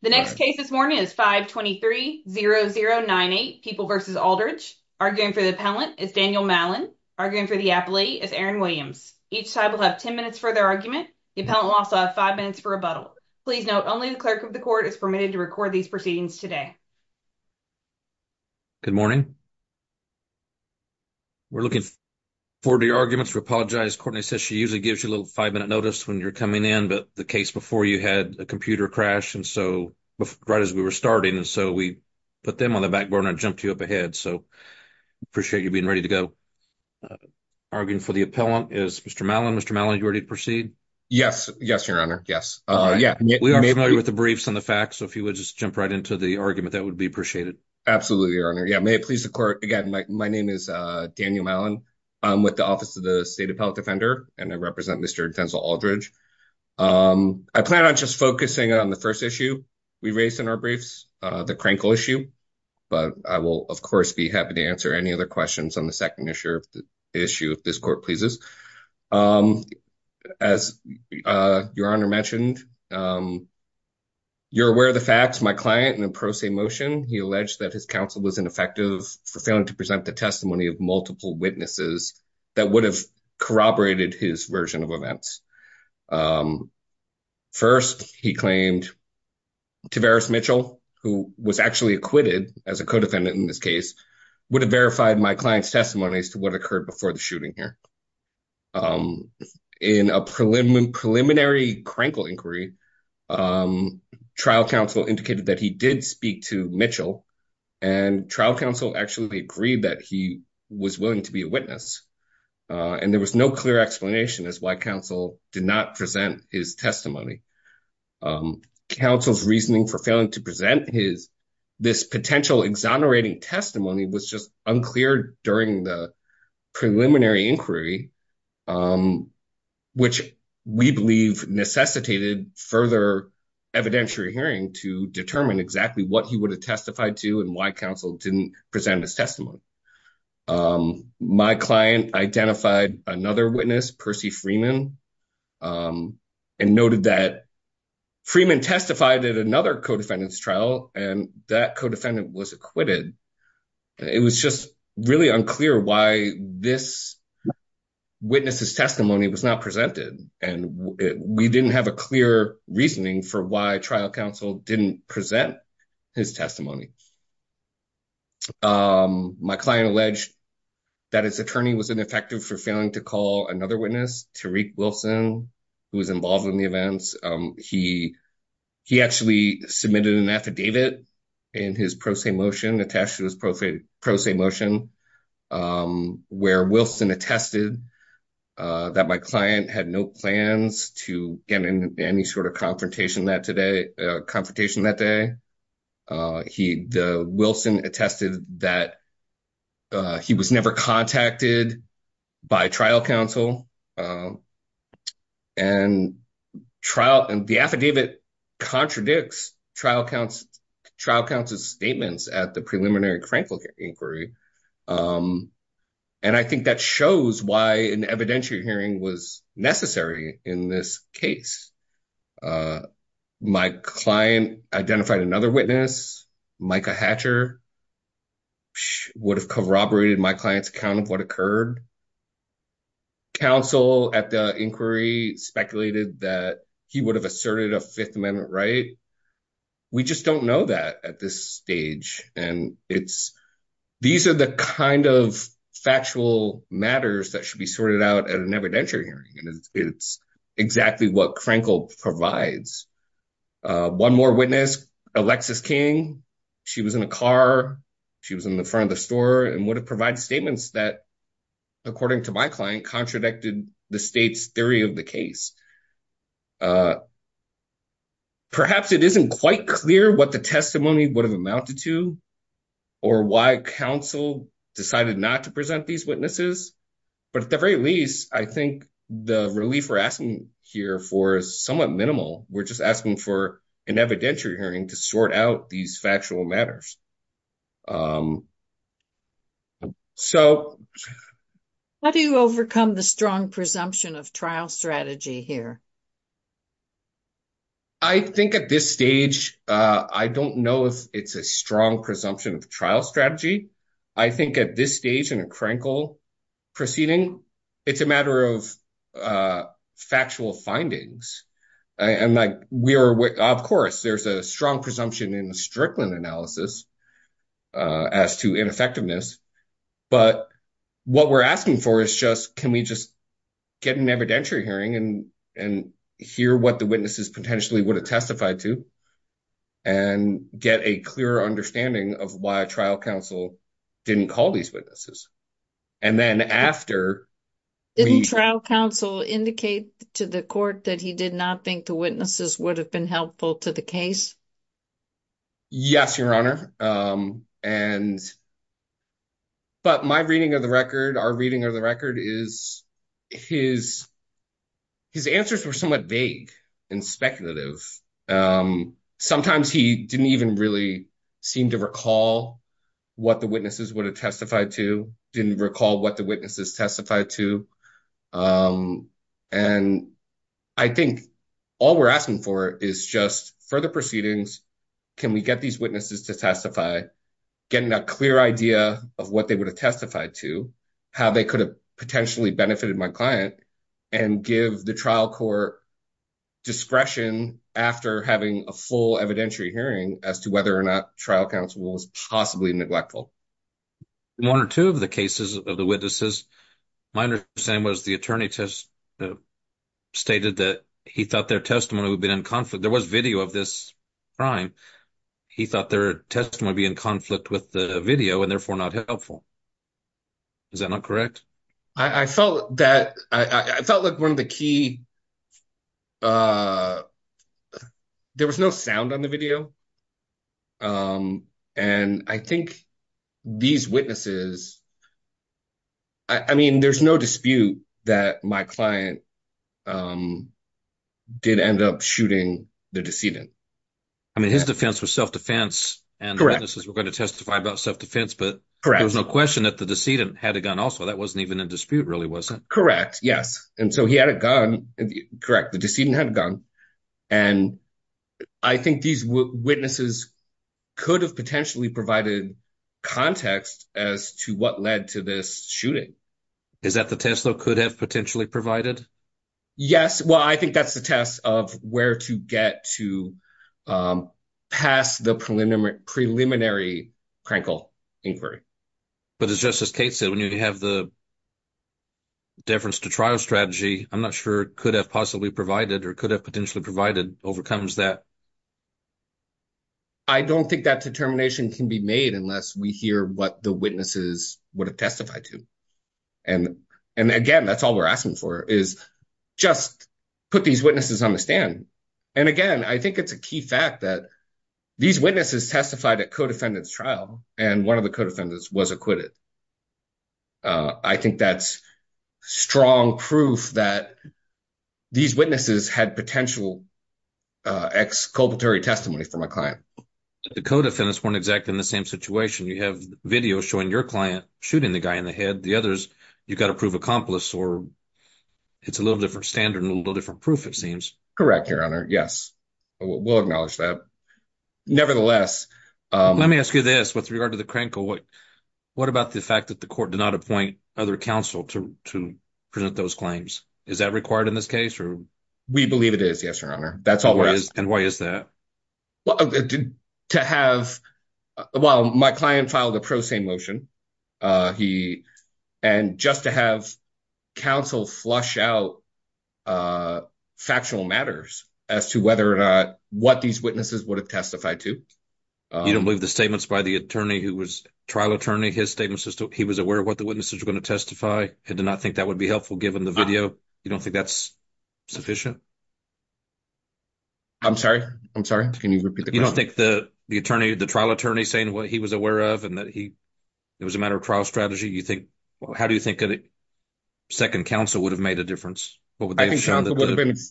The next case this morning is 523-0098, People v. Aldridge. Arguing for the appellant is Daniel Mallon. Arguing for the appellate is Aaron Williams. Each side will have 10 minutes for their argument. The appellant will also have five minutes for rebuttal. Please note, only the clerk of the court is permitted to record these proceedings today. Good morning. We're looking forward to your arguments. We apologize, Courtney says she usually gives you a little five-minute notice when you're coming in, but the case before you had a computer crash, so right as we were starting, and so we put them on the back burner and jumped you up ahead, so appreciate you being ready to go. Arguing for the appellant is Mr. Mallon. Mr. Mallon, are you ready to proceed? Yes, yes, your honor, yes. We are familiar with the briefs and the facts, so if you would just jump right into the argument, that would be appreciated. Absolutely, your honor. Yeah, may it please the court, again, my name is Daniel Mallon. I'm with the Office of the State Appellate Defender, and I represent Mr. Denzel Aldridge. I plan on just focusing on the first issue we raised in our briefs, the Krenkel issue, but I will, of course, be happy to answer any other questions on the second issue if this court pleases. As your honor mentioned, you're aware of the facts. My client, in a pro se motion, he alleged that his counsel was ineffective for failing to present the testimony of multiple witnesses that would have corroborated his version of events. First, he claimed Tavaris Mitchell, who was actually acquitted as a co-defendant in this case, would have verified my client's testimony as to what occurred before the shooting here. In a preliminary Krenkel inquiry, trial counsel indicated that he did speak to Mitchell, and trial counsel actually agreed that he was willing to be a witness, and there was no clear explanation as to why counsel did not present his testimony. Counsel's reasoning for failing to present this potential exonerating testimony was just unclear during the preliminary inquiry, which we believe necessitated further evidentiary hearing to determine exactly what he would have testified to and why counsel didn't present his testimony. My client identified another witness, Percy Freeman, and noted that Freeman testified at another co-defendant's trial, and that co-defendant was acquitted. It was just really unclear why this witness's testimony was not presented, and we didn't have a clear reasoning for why trial counsel didn't present his testimony. My client alleged that his attorney was ineffective for failing to call another witness, Tariq Wilson, who was involved in the events. He actually submitted an affidavit in his pro se motion, attached to his pro se motion, where Wilson attested that my client had no plans to get in any sort of confrontation that day. Wilson attested that he was never contacted by trial counsel and the affidavit contradicts trial counsel's statements at the preliminary Crankville inquiry, and I think that shows why an evidentiary hearing was necessary in this case. My client identified another witness, Micah Hatcher, would have corroborated my client's account of what occurred. Counsel at the inquiry speculated that he would have asserted a Fifth Amendment right. We just don't know that at this stage, and these are the kind of factual matters that should be sorted out at an evidentiary hearing, and it's exactly what Crankville provides. One more witness, Alexis King. She was in a car. She was in the front of the store and would have provided statements that, according to my client, contradicted the state's theory of the case. Perhaps it isn't quite clear what the testimony would have amounted to or why counsel decided not to present these witnesses, but at the very least, I think the relief we're asking here for is somewhat minimal. We're just asking for an evidentiary hearing to sort out these factual matters. How do you overcome the strong presumption of trial strategy here? I think at this stage, I don't know if it's a strong presumption of trial strategy. I think at this stage in a Crankville proceeding, it's a matter of factual findings. Of course, there's a strong presumption in the Strickland analysis as to ineffectiveness, but what we're asking for is just, can we just get an evidentiary hearing and hear what the witnesses potentially would have testified to and get a clearer understanding of why trial counsel didn't call these witnesses? And then after- Didn't trial counsel indicate to the court that he did not think the witnesses would have been helpful to the case? Yes, Your Honor. But my reading of the record, our reading of the record is, his answers were somewhat vague and speculative. Sometimes he didn't even really seem to recall what the witnesses would have testified to, didn't recall what the witnesses testified to. And I think all we're asking for is just further proceedings. Can we get these witnesses to testify, getting a clear idea of what they would have testified to, how they could have potentially benefited my client and give the trial court discretion after having a full evidentiary hearing as to whether or not trial counsel was possibly neglectful? One or two of the cases of the witnesses, my understanding was the attorney just stated that he thought their testimony would have been in conflict. There was video of this crime. He thought their testimony would be in conflict with the video and therefore not helpful. Is that not correct? I felt that, I felt like one of the key, there was no sound on the video. And I think these witnesses, I mean, there's no dispute that my client did end up shooting the decedent. I mean, his defense was self-defense and the witnesses were going to testify about self-defense, but there was no question that the decedent had a gun also. That wasn't even in dispute really, was it? Correct, yes. And so he had a gun and he was shooting the decedent. Correct, the decedent had a gun. And I think these witnesses could have potentially provided context as to what led to this shooting. Is that the test that could have potentially provided? Yes, well, I think that's the test of where to get to pass the preliminary crankle inquiry. But it's just as Kate said, when you have the deference to trial strategy, I'm not sure it could have possibly provided or could have potentially provided overcomes that. I don't think that determination can be made unless we hear what the witnesses would have testified to. And again, that's all we're asking for is just put these witnesses on the stand. And again, I think it's a key fact that these witnesses testified at co-defendants trial and one of the co-defendants was acquitted. I think that's strong proof that these witnesses had potential exculpatory testimony from a client. The co-defendants weren't exactly in the same situation. You have videos showing your client shooting the guy in the head. The others, you've got to prove accomplice or it's a little different standard and a little different proof, it seems. Correct, your honor, yes. We'll acknowledge that. Nevertheless- Let me ask you this with regard to the crankle, what about the deference to trial? What about the fact that the court did not appoint other counsel to present those claims? Is that required in this case or? We believe it is, yes, your honor. That's all we're asking. And why is that? To have, well, my client filed a pro se motion. And just to have counsel flush out factual matters as to whether or not what these witnesses would have testified to. You don't believe the statements by the attorney who was trial attorney, his statements as to he was aware of what the witnesses were going to testify and did not think that would be helpful given the video. You don't think that's sufficient? I'm sorry, I'm sorry. Can you repeat the question? You don't think the attorney, the trial attorney saying what he was aware of and that it was a matter of trial strategy, you think, how do you think a second counsel would have made a difference? What would they have shown that-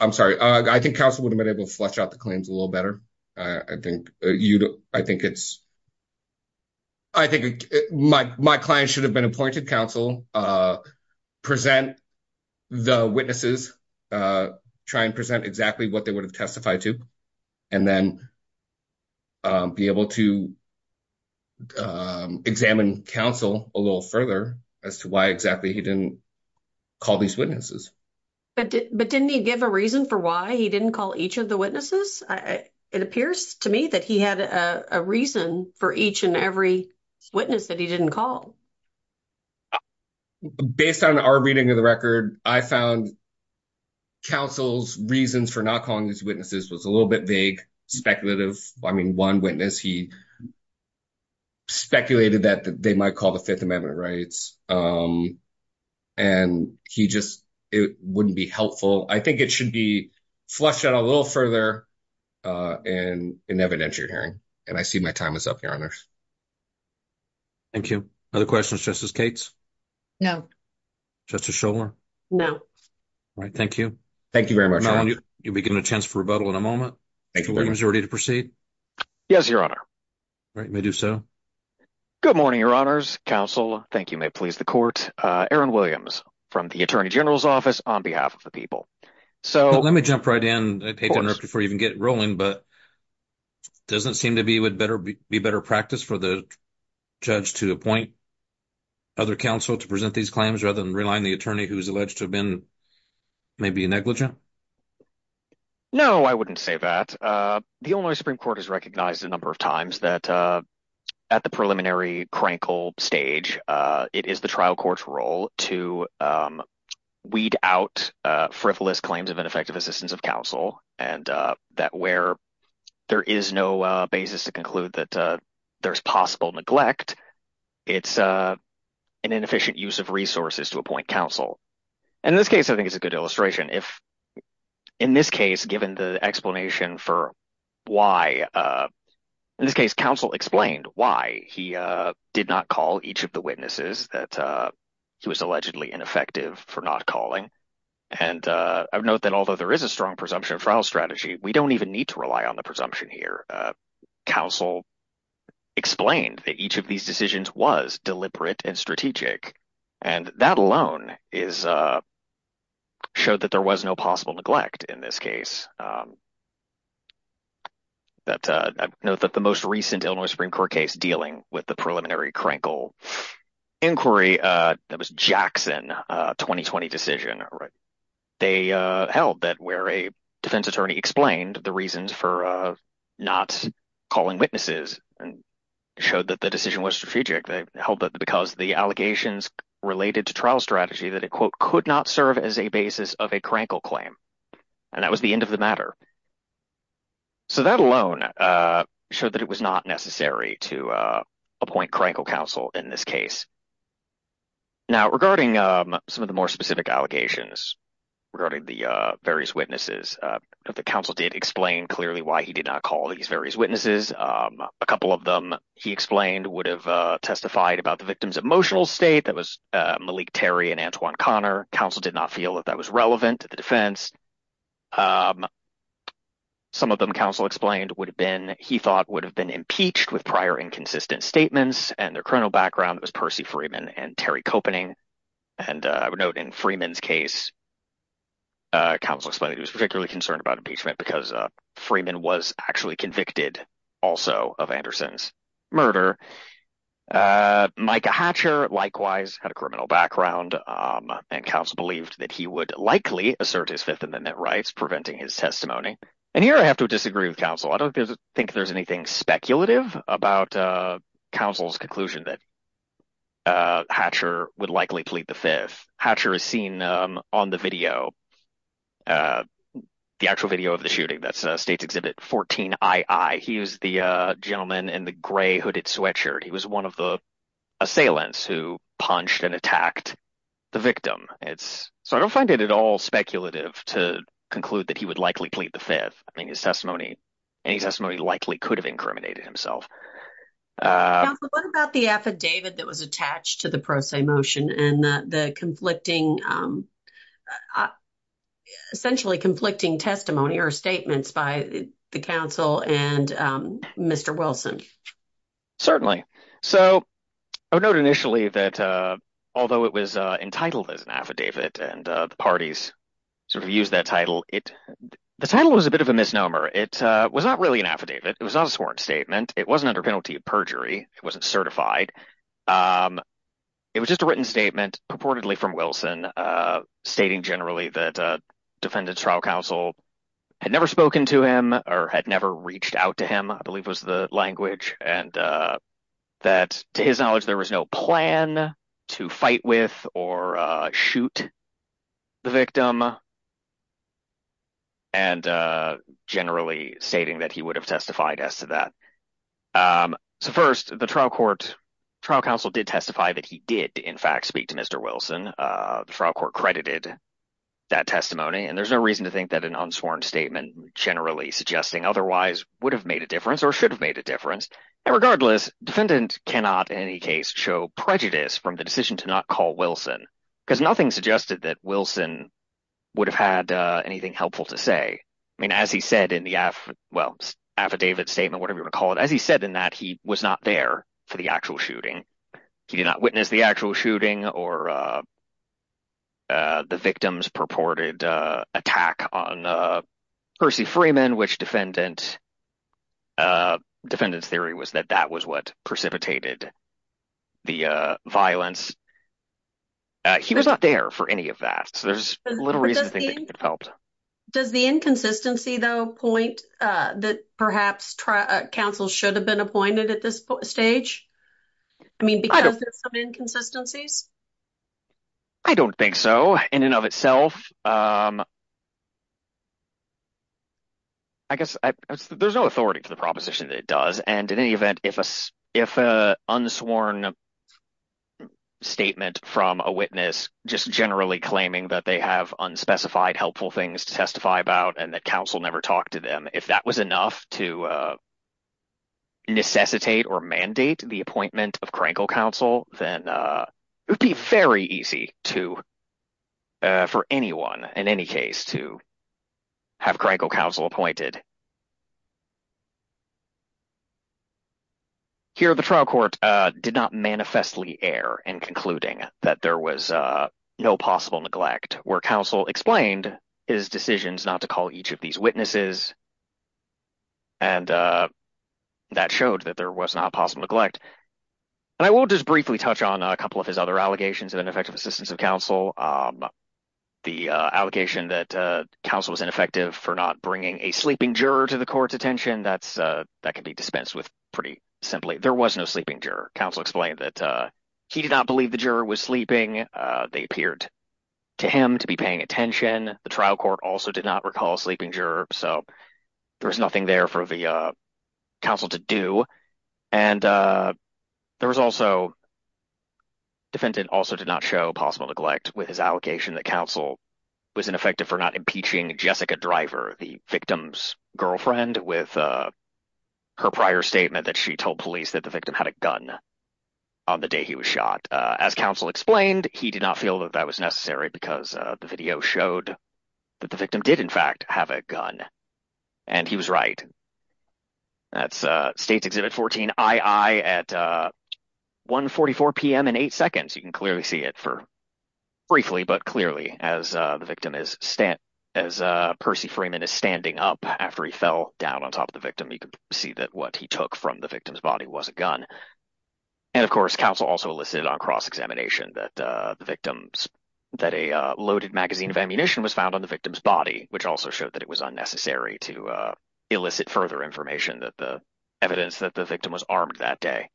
I'm sorry, I think counsel would have been able to flush out the claims a little better. I think you, I think it's, I think my client should have been appointed counsel, present the witnesses, try and present exactly what they would have testified to. And then be able to examine counsel a little further as to why exactly he didn't call these witnesses. But didn't he give a reason for why he didn't call each of the witnesses? It appears to me that he had a reason for each and every witness that he didn't call. Based on our reading of the record, I found counsel's reasons for not calling these witnesses was a little bit vague, speculative. I mean, one witness, he speculated that they might call the Fifth Amendment rights and he just, it wouldn't be helpful. I think it should be flushed out a little further in evidentiary hearing. And I see my time is up, your honors. Thank you. Other questions, Justice Cates? No. Justice Shulman? No. All right, thank you. Thank you very much. You'll be given a chance for rebuttal in a moment. Thank you very much. Williams, you're ready to proceed? Yes, your honor. All right, you may do so. Good morning, your honors, counsel. Thank you, may it please the court. Aaron Williams from the attorney general's office on behalf of the people. So- Let me jump right in, before you even get rolling, but doesn't seem to be better practice for the judge to appoint other counsel to present these claims rather than relying the attorney who's alleged to have been maybe a negligent? No, I wouldn't say that. The Illinois Supreme Court has recognized a number of times that at the preliminary crankle stage, it is the trial court's role to weed out frivolous claims of ineffective assistance of counsel, and that where there is no basis to conclude that there's possible neglect, it's an inefficient use of resources to appoint counsel. In this case, I think it's a good illustration. If in this case, given the explanation for why, in this case, counsel explained why he did not call each of the witnesses that he was allegedly ineffective for not calling. And I would note that although there is a strong presumption of trial strategy, we don't even need to rely on the presumption here. Counsel explained that each of these decisions was deliberate and strategic, and that alone showed that there was no possible neglect in this case. That note that the most recent Illinois Supreme Court case dealing with the preliminary crankle inquiry, that was Jackson, 2020 decision, right? They held that where a defense attorney explained the reasons for not calling witnesses and showed that the decision was strategic, they held that because the allegations related to trial strategy, that it quote, could not serve as a basis of a crankle claim. And that was the end of the matter. So that alone showed that it was not necessary to appoint crankle counsel in this case. Now, regarding some of the more specific allegations, regarding the various witnesses, the counsel did explain clearly why he did not call these various witnesses. A couple of them he explained would have testified about the victim's emotional state that was Malik Terry and Antoine Connor. Counsel did not feel that that was relevant to the defense. Some of them counsel explained would have been, he thought would have been impeached with prior inconsistent statements and their criminal background was Percy Freeman and Terry Copening. And I would note in Freeman's case, counsel explained he was particularly concerned about impeachment because Freeman was actually convicted also of Anderson's murder. Micah Hatcher likewise had a criminal background and counsel believed that he would likely assert his Fifth Amendment rights preventing his testimony. And here I have to disagree with counsel. I don't think there's anything speculative about counsel's conclusion that Hatcher would likely plead the fifth. Hatcher is seen on the video, the actual video of the shooting, that's a state's exhibit 14II. He was the gentleman in the gray hooded sweatshirt. He was one of the assailants who punched and attacked the victim. It's, so I don't find it at all speculative to conclude that he would likely plead the fifth. I mean, his testimony, any testimony likely could have incriminated himself. Counsel, what about the affidavit that was attached to the pro se motion and the conflicting, essentially conflicting testimony or statements by the counsel and Mr. Wilson? Certainly. So I would note initially that although it was entitled as an affidavit and the parties sort of used that title, the title was a bit of a misnomer. It was not really an affidavit. It was not a sworn statement. It wasn't under penalty of perjury. It wasn't certified. It was just a written statement purportedly from Wilson stating generally that defendant's trial counsel had never spoken to him or had never reached out to him, I believe was the language. And that to his knowledge, there was no plan to fight with or shoot the victim. And generally stating that he would have testified as to that. So first the trial court, trial counsel did testify that he did in fact, speak to Mr. Wilson. The trial court credited that testimony. And there's no reason to think that an unsworn statement generally suggesting otherwise would have made a difference or should have made a difference. And regardless, defendant cannot in any case show prejudice from the decision to not call Wilson because nothing suggested that Wilson would have had anything helpful to say. I mean, as he said in the affidavit statement, whatever you wanna call it, as he said in that, he was not there for the actual shooting. He did not witness the actual shooting or the victim's purported attack on Percy Freeman, which defendant's theory was that that was what precipitated the violence. He was not there for any of that. So there's little reason to think that could have helped. Does the inconsistency though point that perhaps counsel should have been appointed at this stage? I mean, because there's some inconsistencies? I don't think so in and of itself. I guess there's no authority to the proposition that it does. And in any event, if an unsworn statement from a witness just generally claiming that they have unspecified helpful things to testify about and that counsel never talked to them, if that was enough to necessitate or mandate the appointment of Krenkel counsel, then it would be very easy for anyone in any case to have Krenkel counsel appointed. Here, the trial court did not manifestly err in concluding that there was no possible neglect where counsel explained his decisions not to call each of these witnesses. And that showed that there was not possible neglect. And I will just briefly touch on a couple of his other allegations of ineffective assistance of counsel. The allegation that counsel was ineffective for not bringing a sleeping juror to the court's attention, that can be dispensed with pretty simply. There was no sleeping juror. Counsel explained that he did not believe the juror was sleeping. They appeared to him to be paying attention. The trial court also did not recall a sleeping juror. So there was nothing there for the counsel to do. And there was also, defendant also did not show possible neglect with his allocation that counsel was ineffective for not impeaching Jessica Driver, the victim's girlfriend, with her prior statement that she told police that the victim had a gun on the day he was shot. As counsel explained, he did not feel that that was necessary because the video showed that the victim did in fact have a gun. And he was right. That's States Exhibit 14-II at 1.44 PM in eight seconds. You can clearly see it for briefly, but clearly as the victim is, as Percy Freeman is standing up after he fell down on top of the victim, you can see that what he took from the victim's body was a gun. And of course, counsel also elicited on cross-examination that the victim's, that a loaded magazine of ammunition was found on the victim's body, which also showed that it was unnecessary to elicit further information that the evidence that the victim was armed that day.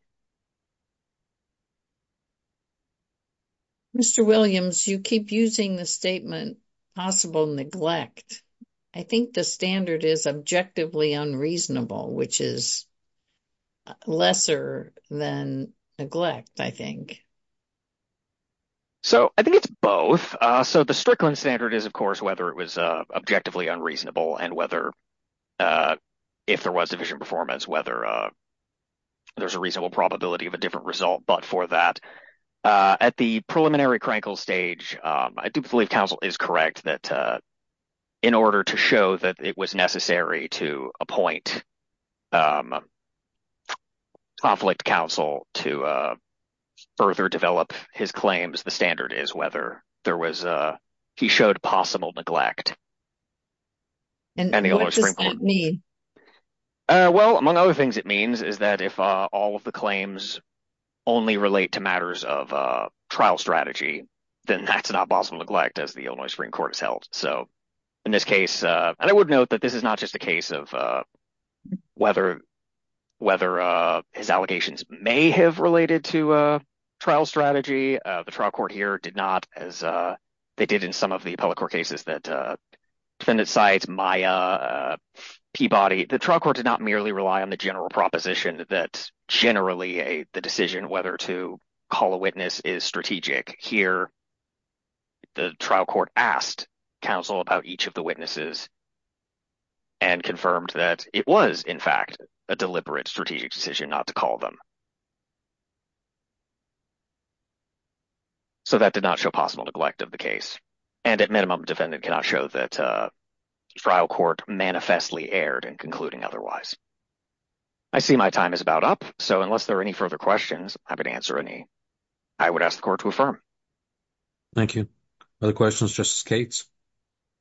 Mr. Williams, you keep using the statement, possible neglect. I think the standard is objectively unreasonable, which is lesser than neglect, I think. So I think it's both. So the Strickland standard is of course, whether it was objectively unreasonable and whether if there was division performance, whether there's a reasonable probability of a different result, but for that, at the preliminary Krenkel stage, I do believe counsel is correct that in order to show that it was necessary to appoint conflict counsel to further develop his claims, the standard is whether there was, he showed possible neglect. And the Illinois Supreme Court- And what does that mean? Well, among other things it means is that if all of the claims only relate to matters of trial strategy, then that's not possible neglect as the Illinois Supreme Court has held. So in this case, and I would note that this is not just a case of whether his allegations may have related to a trial strategy. The trial court here did not, as they did in some of the appellate court cases that defendant sides, Maya, Peabody, the trial court did not merely rely on the general proposition that generally the decision whether to call a witness is strategic. Here, the trial court asked counsel about each of the witnesses and confirmed that it was in fact a deliberate strategic decision not to call them. So that did not show possible neglect of the case. And at minimum, defendant cannot show that a trial court manifestly erred in concluding otherwise. I see my time is about up. So unless there are any further questions, I'm happy to answer any. I would ask the court to affirm. Thank you. Other questions, Justice Cates?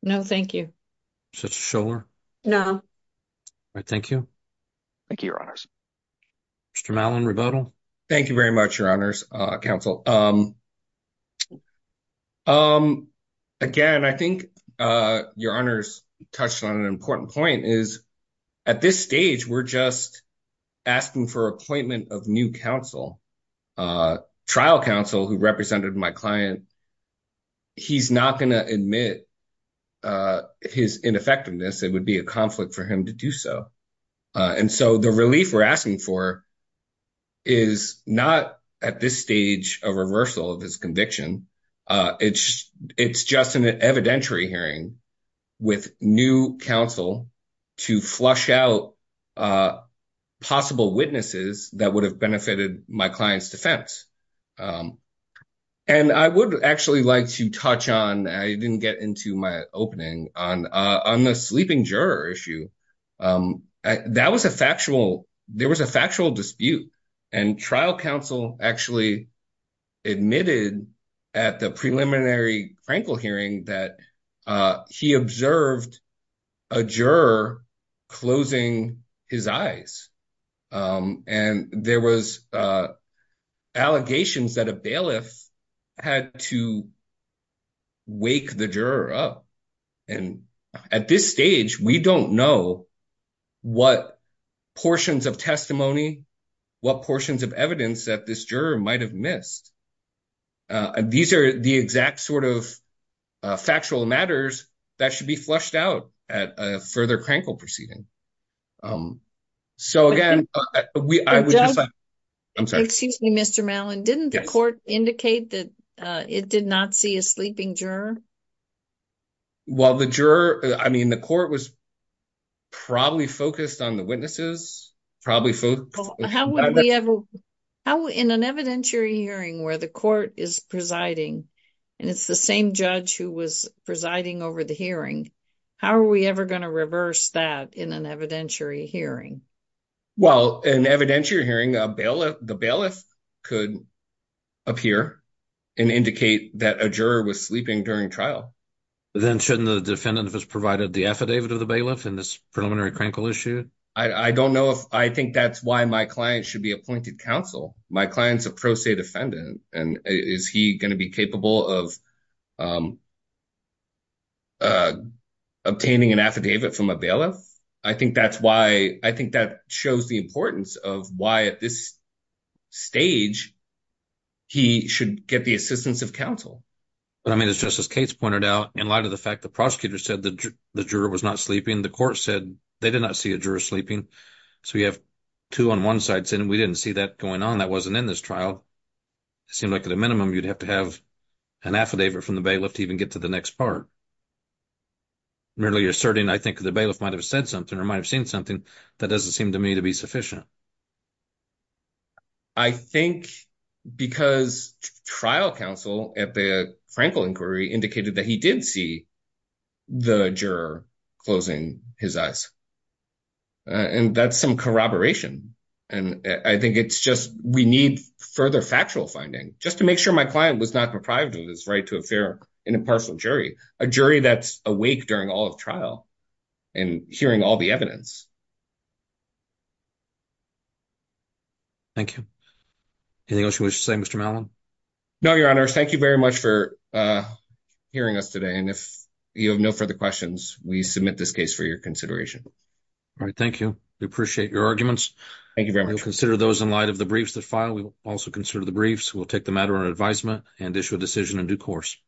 No, thank you. No. All right, thank you. Thank you, your honors. Mr. Malin, rebuttal? Thank you very much, your honors, counsel. Again, I think your honors touched on an important point is at this stage, we're just asking for appointment of new counsel, trial counsel who represented my client he's not gonna admit his ineffectiveness. It would be a conflict for him to do so. And so the relief we're asking for is not at this stage a reversal of his conviction. It's just an evidentiary hearing with new counsel to flush out possible witnesses that would have benefited my client's defense. And I would actually like to touch on, I didn't get into my opening on the sleeping juror issue. There was a factual dispute and trial counsel actually admitted at the preliminary Frankel hearing that he observed a juror closing his eyes. And there was allegations that a bailiff had to wake the juror up. And at this stage, we don't know what portions of testimony, what portions of evidence that this juror might've missed. These are the exact sort of factual matters that should be flushed out at a further Frankel proceeding. So again, I would just like, I'm sorry. Excuse me, Mr. Mellon, didn't the court indicate that it did not see a sleeping juror? Well, the juror, I mean, the court was probably focused on the witnesses, probably focused. How would we ever, in an evidentiary hearing where the court is presiding and it's the same judge who was presiding over the hearing, how are we ever gonna reverse that in an evidentiary hearing? Well, in evidentiary hearing, the bailiff could appear and indicate that a juror was sleeping during trial. Then shouldn't the defendant have just provided the affidavit of the bailiff in this preliminary Frankel issue? I don't know if, I think that's why my client should be appointed counsel. My client's a pro se defendant and is he gonna be capable of obtaining an affidavit from a bailiff? I think that's why, I think that shows the importance of why at this stage, he should get the assistance of counsel. But I mean, it's just as Kate's pointed out, in light of the fact the prosecutor said that the juror was not sleeping, the court said they did not see a juror sleeping. So we have two on one side saying, we didn't see that going on, that wasn't in this trial. It seemed like at a minimum, you'd have to have an affidavit from the bailiff to even get to the next part. Merely asserting, I think the bailiff might've said something or might've seen something that doesn't seem to me to be sufficient. I think because trial counsel at the Frankel inquiry indicated that he did see the juror closing his eyes. And that's some corroboration. And I think it's just, we need further factual finding just to make sure my client was not deprived of his right to a fair and impartial jury. A jury that's awake during all of trial and hearing all the evidence. Thank you. Anything else you wish to say, Mr. Mallon? No, your honors. Thank you very much for hearing us today. And if you have no further questions, we submit this case for your consideration. All right, thank you. We appreciate your arguments. Thank you very much. We'll consider those in light of the briefs that file. We will also consider the briefs. We'll take the matter on advisement and issue a decision in due course.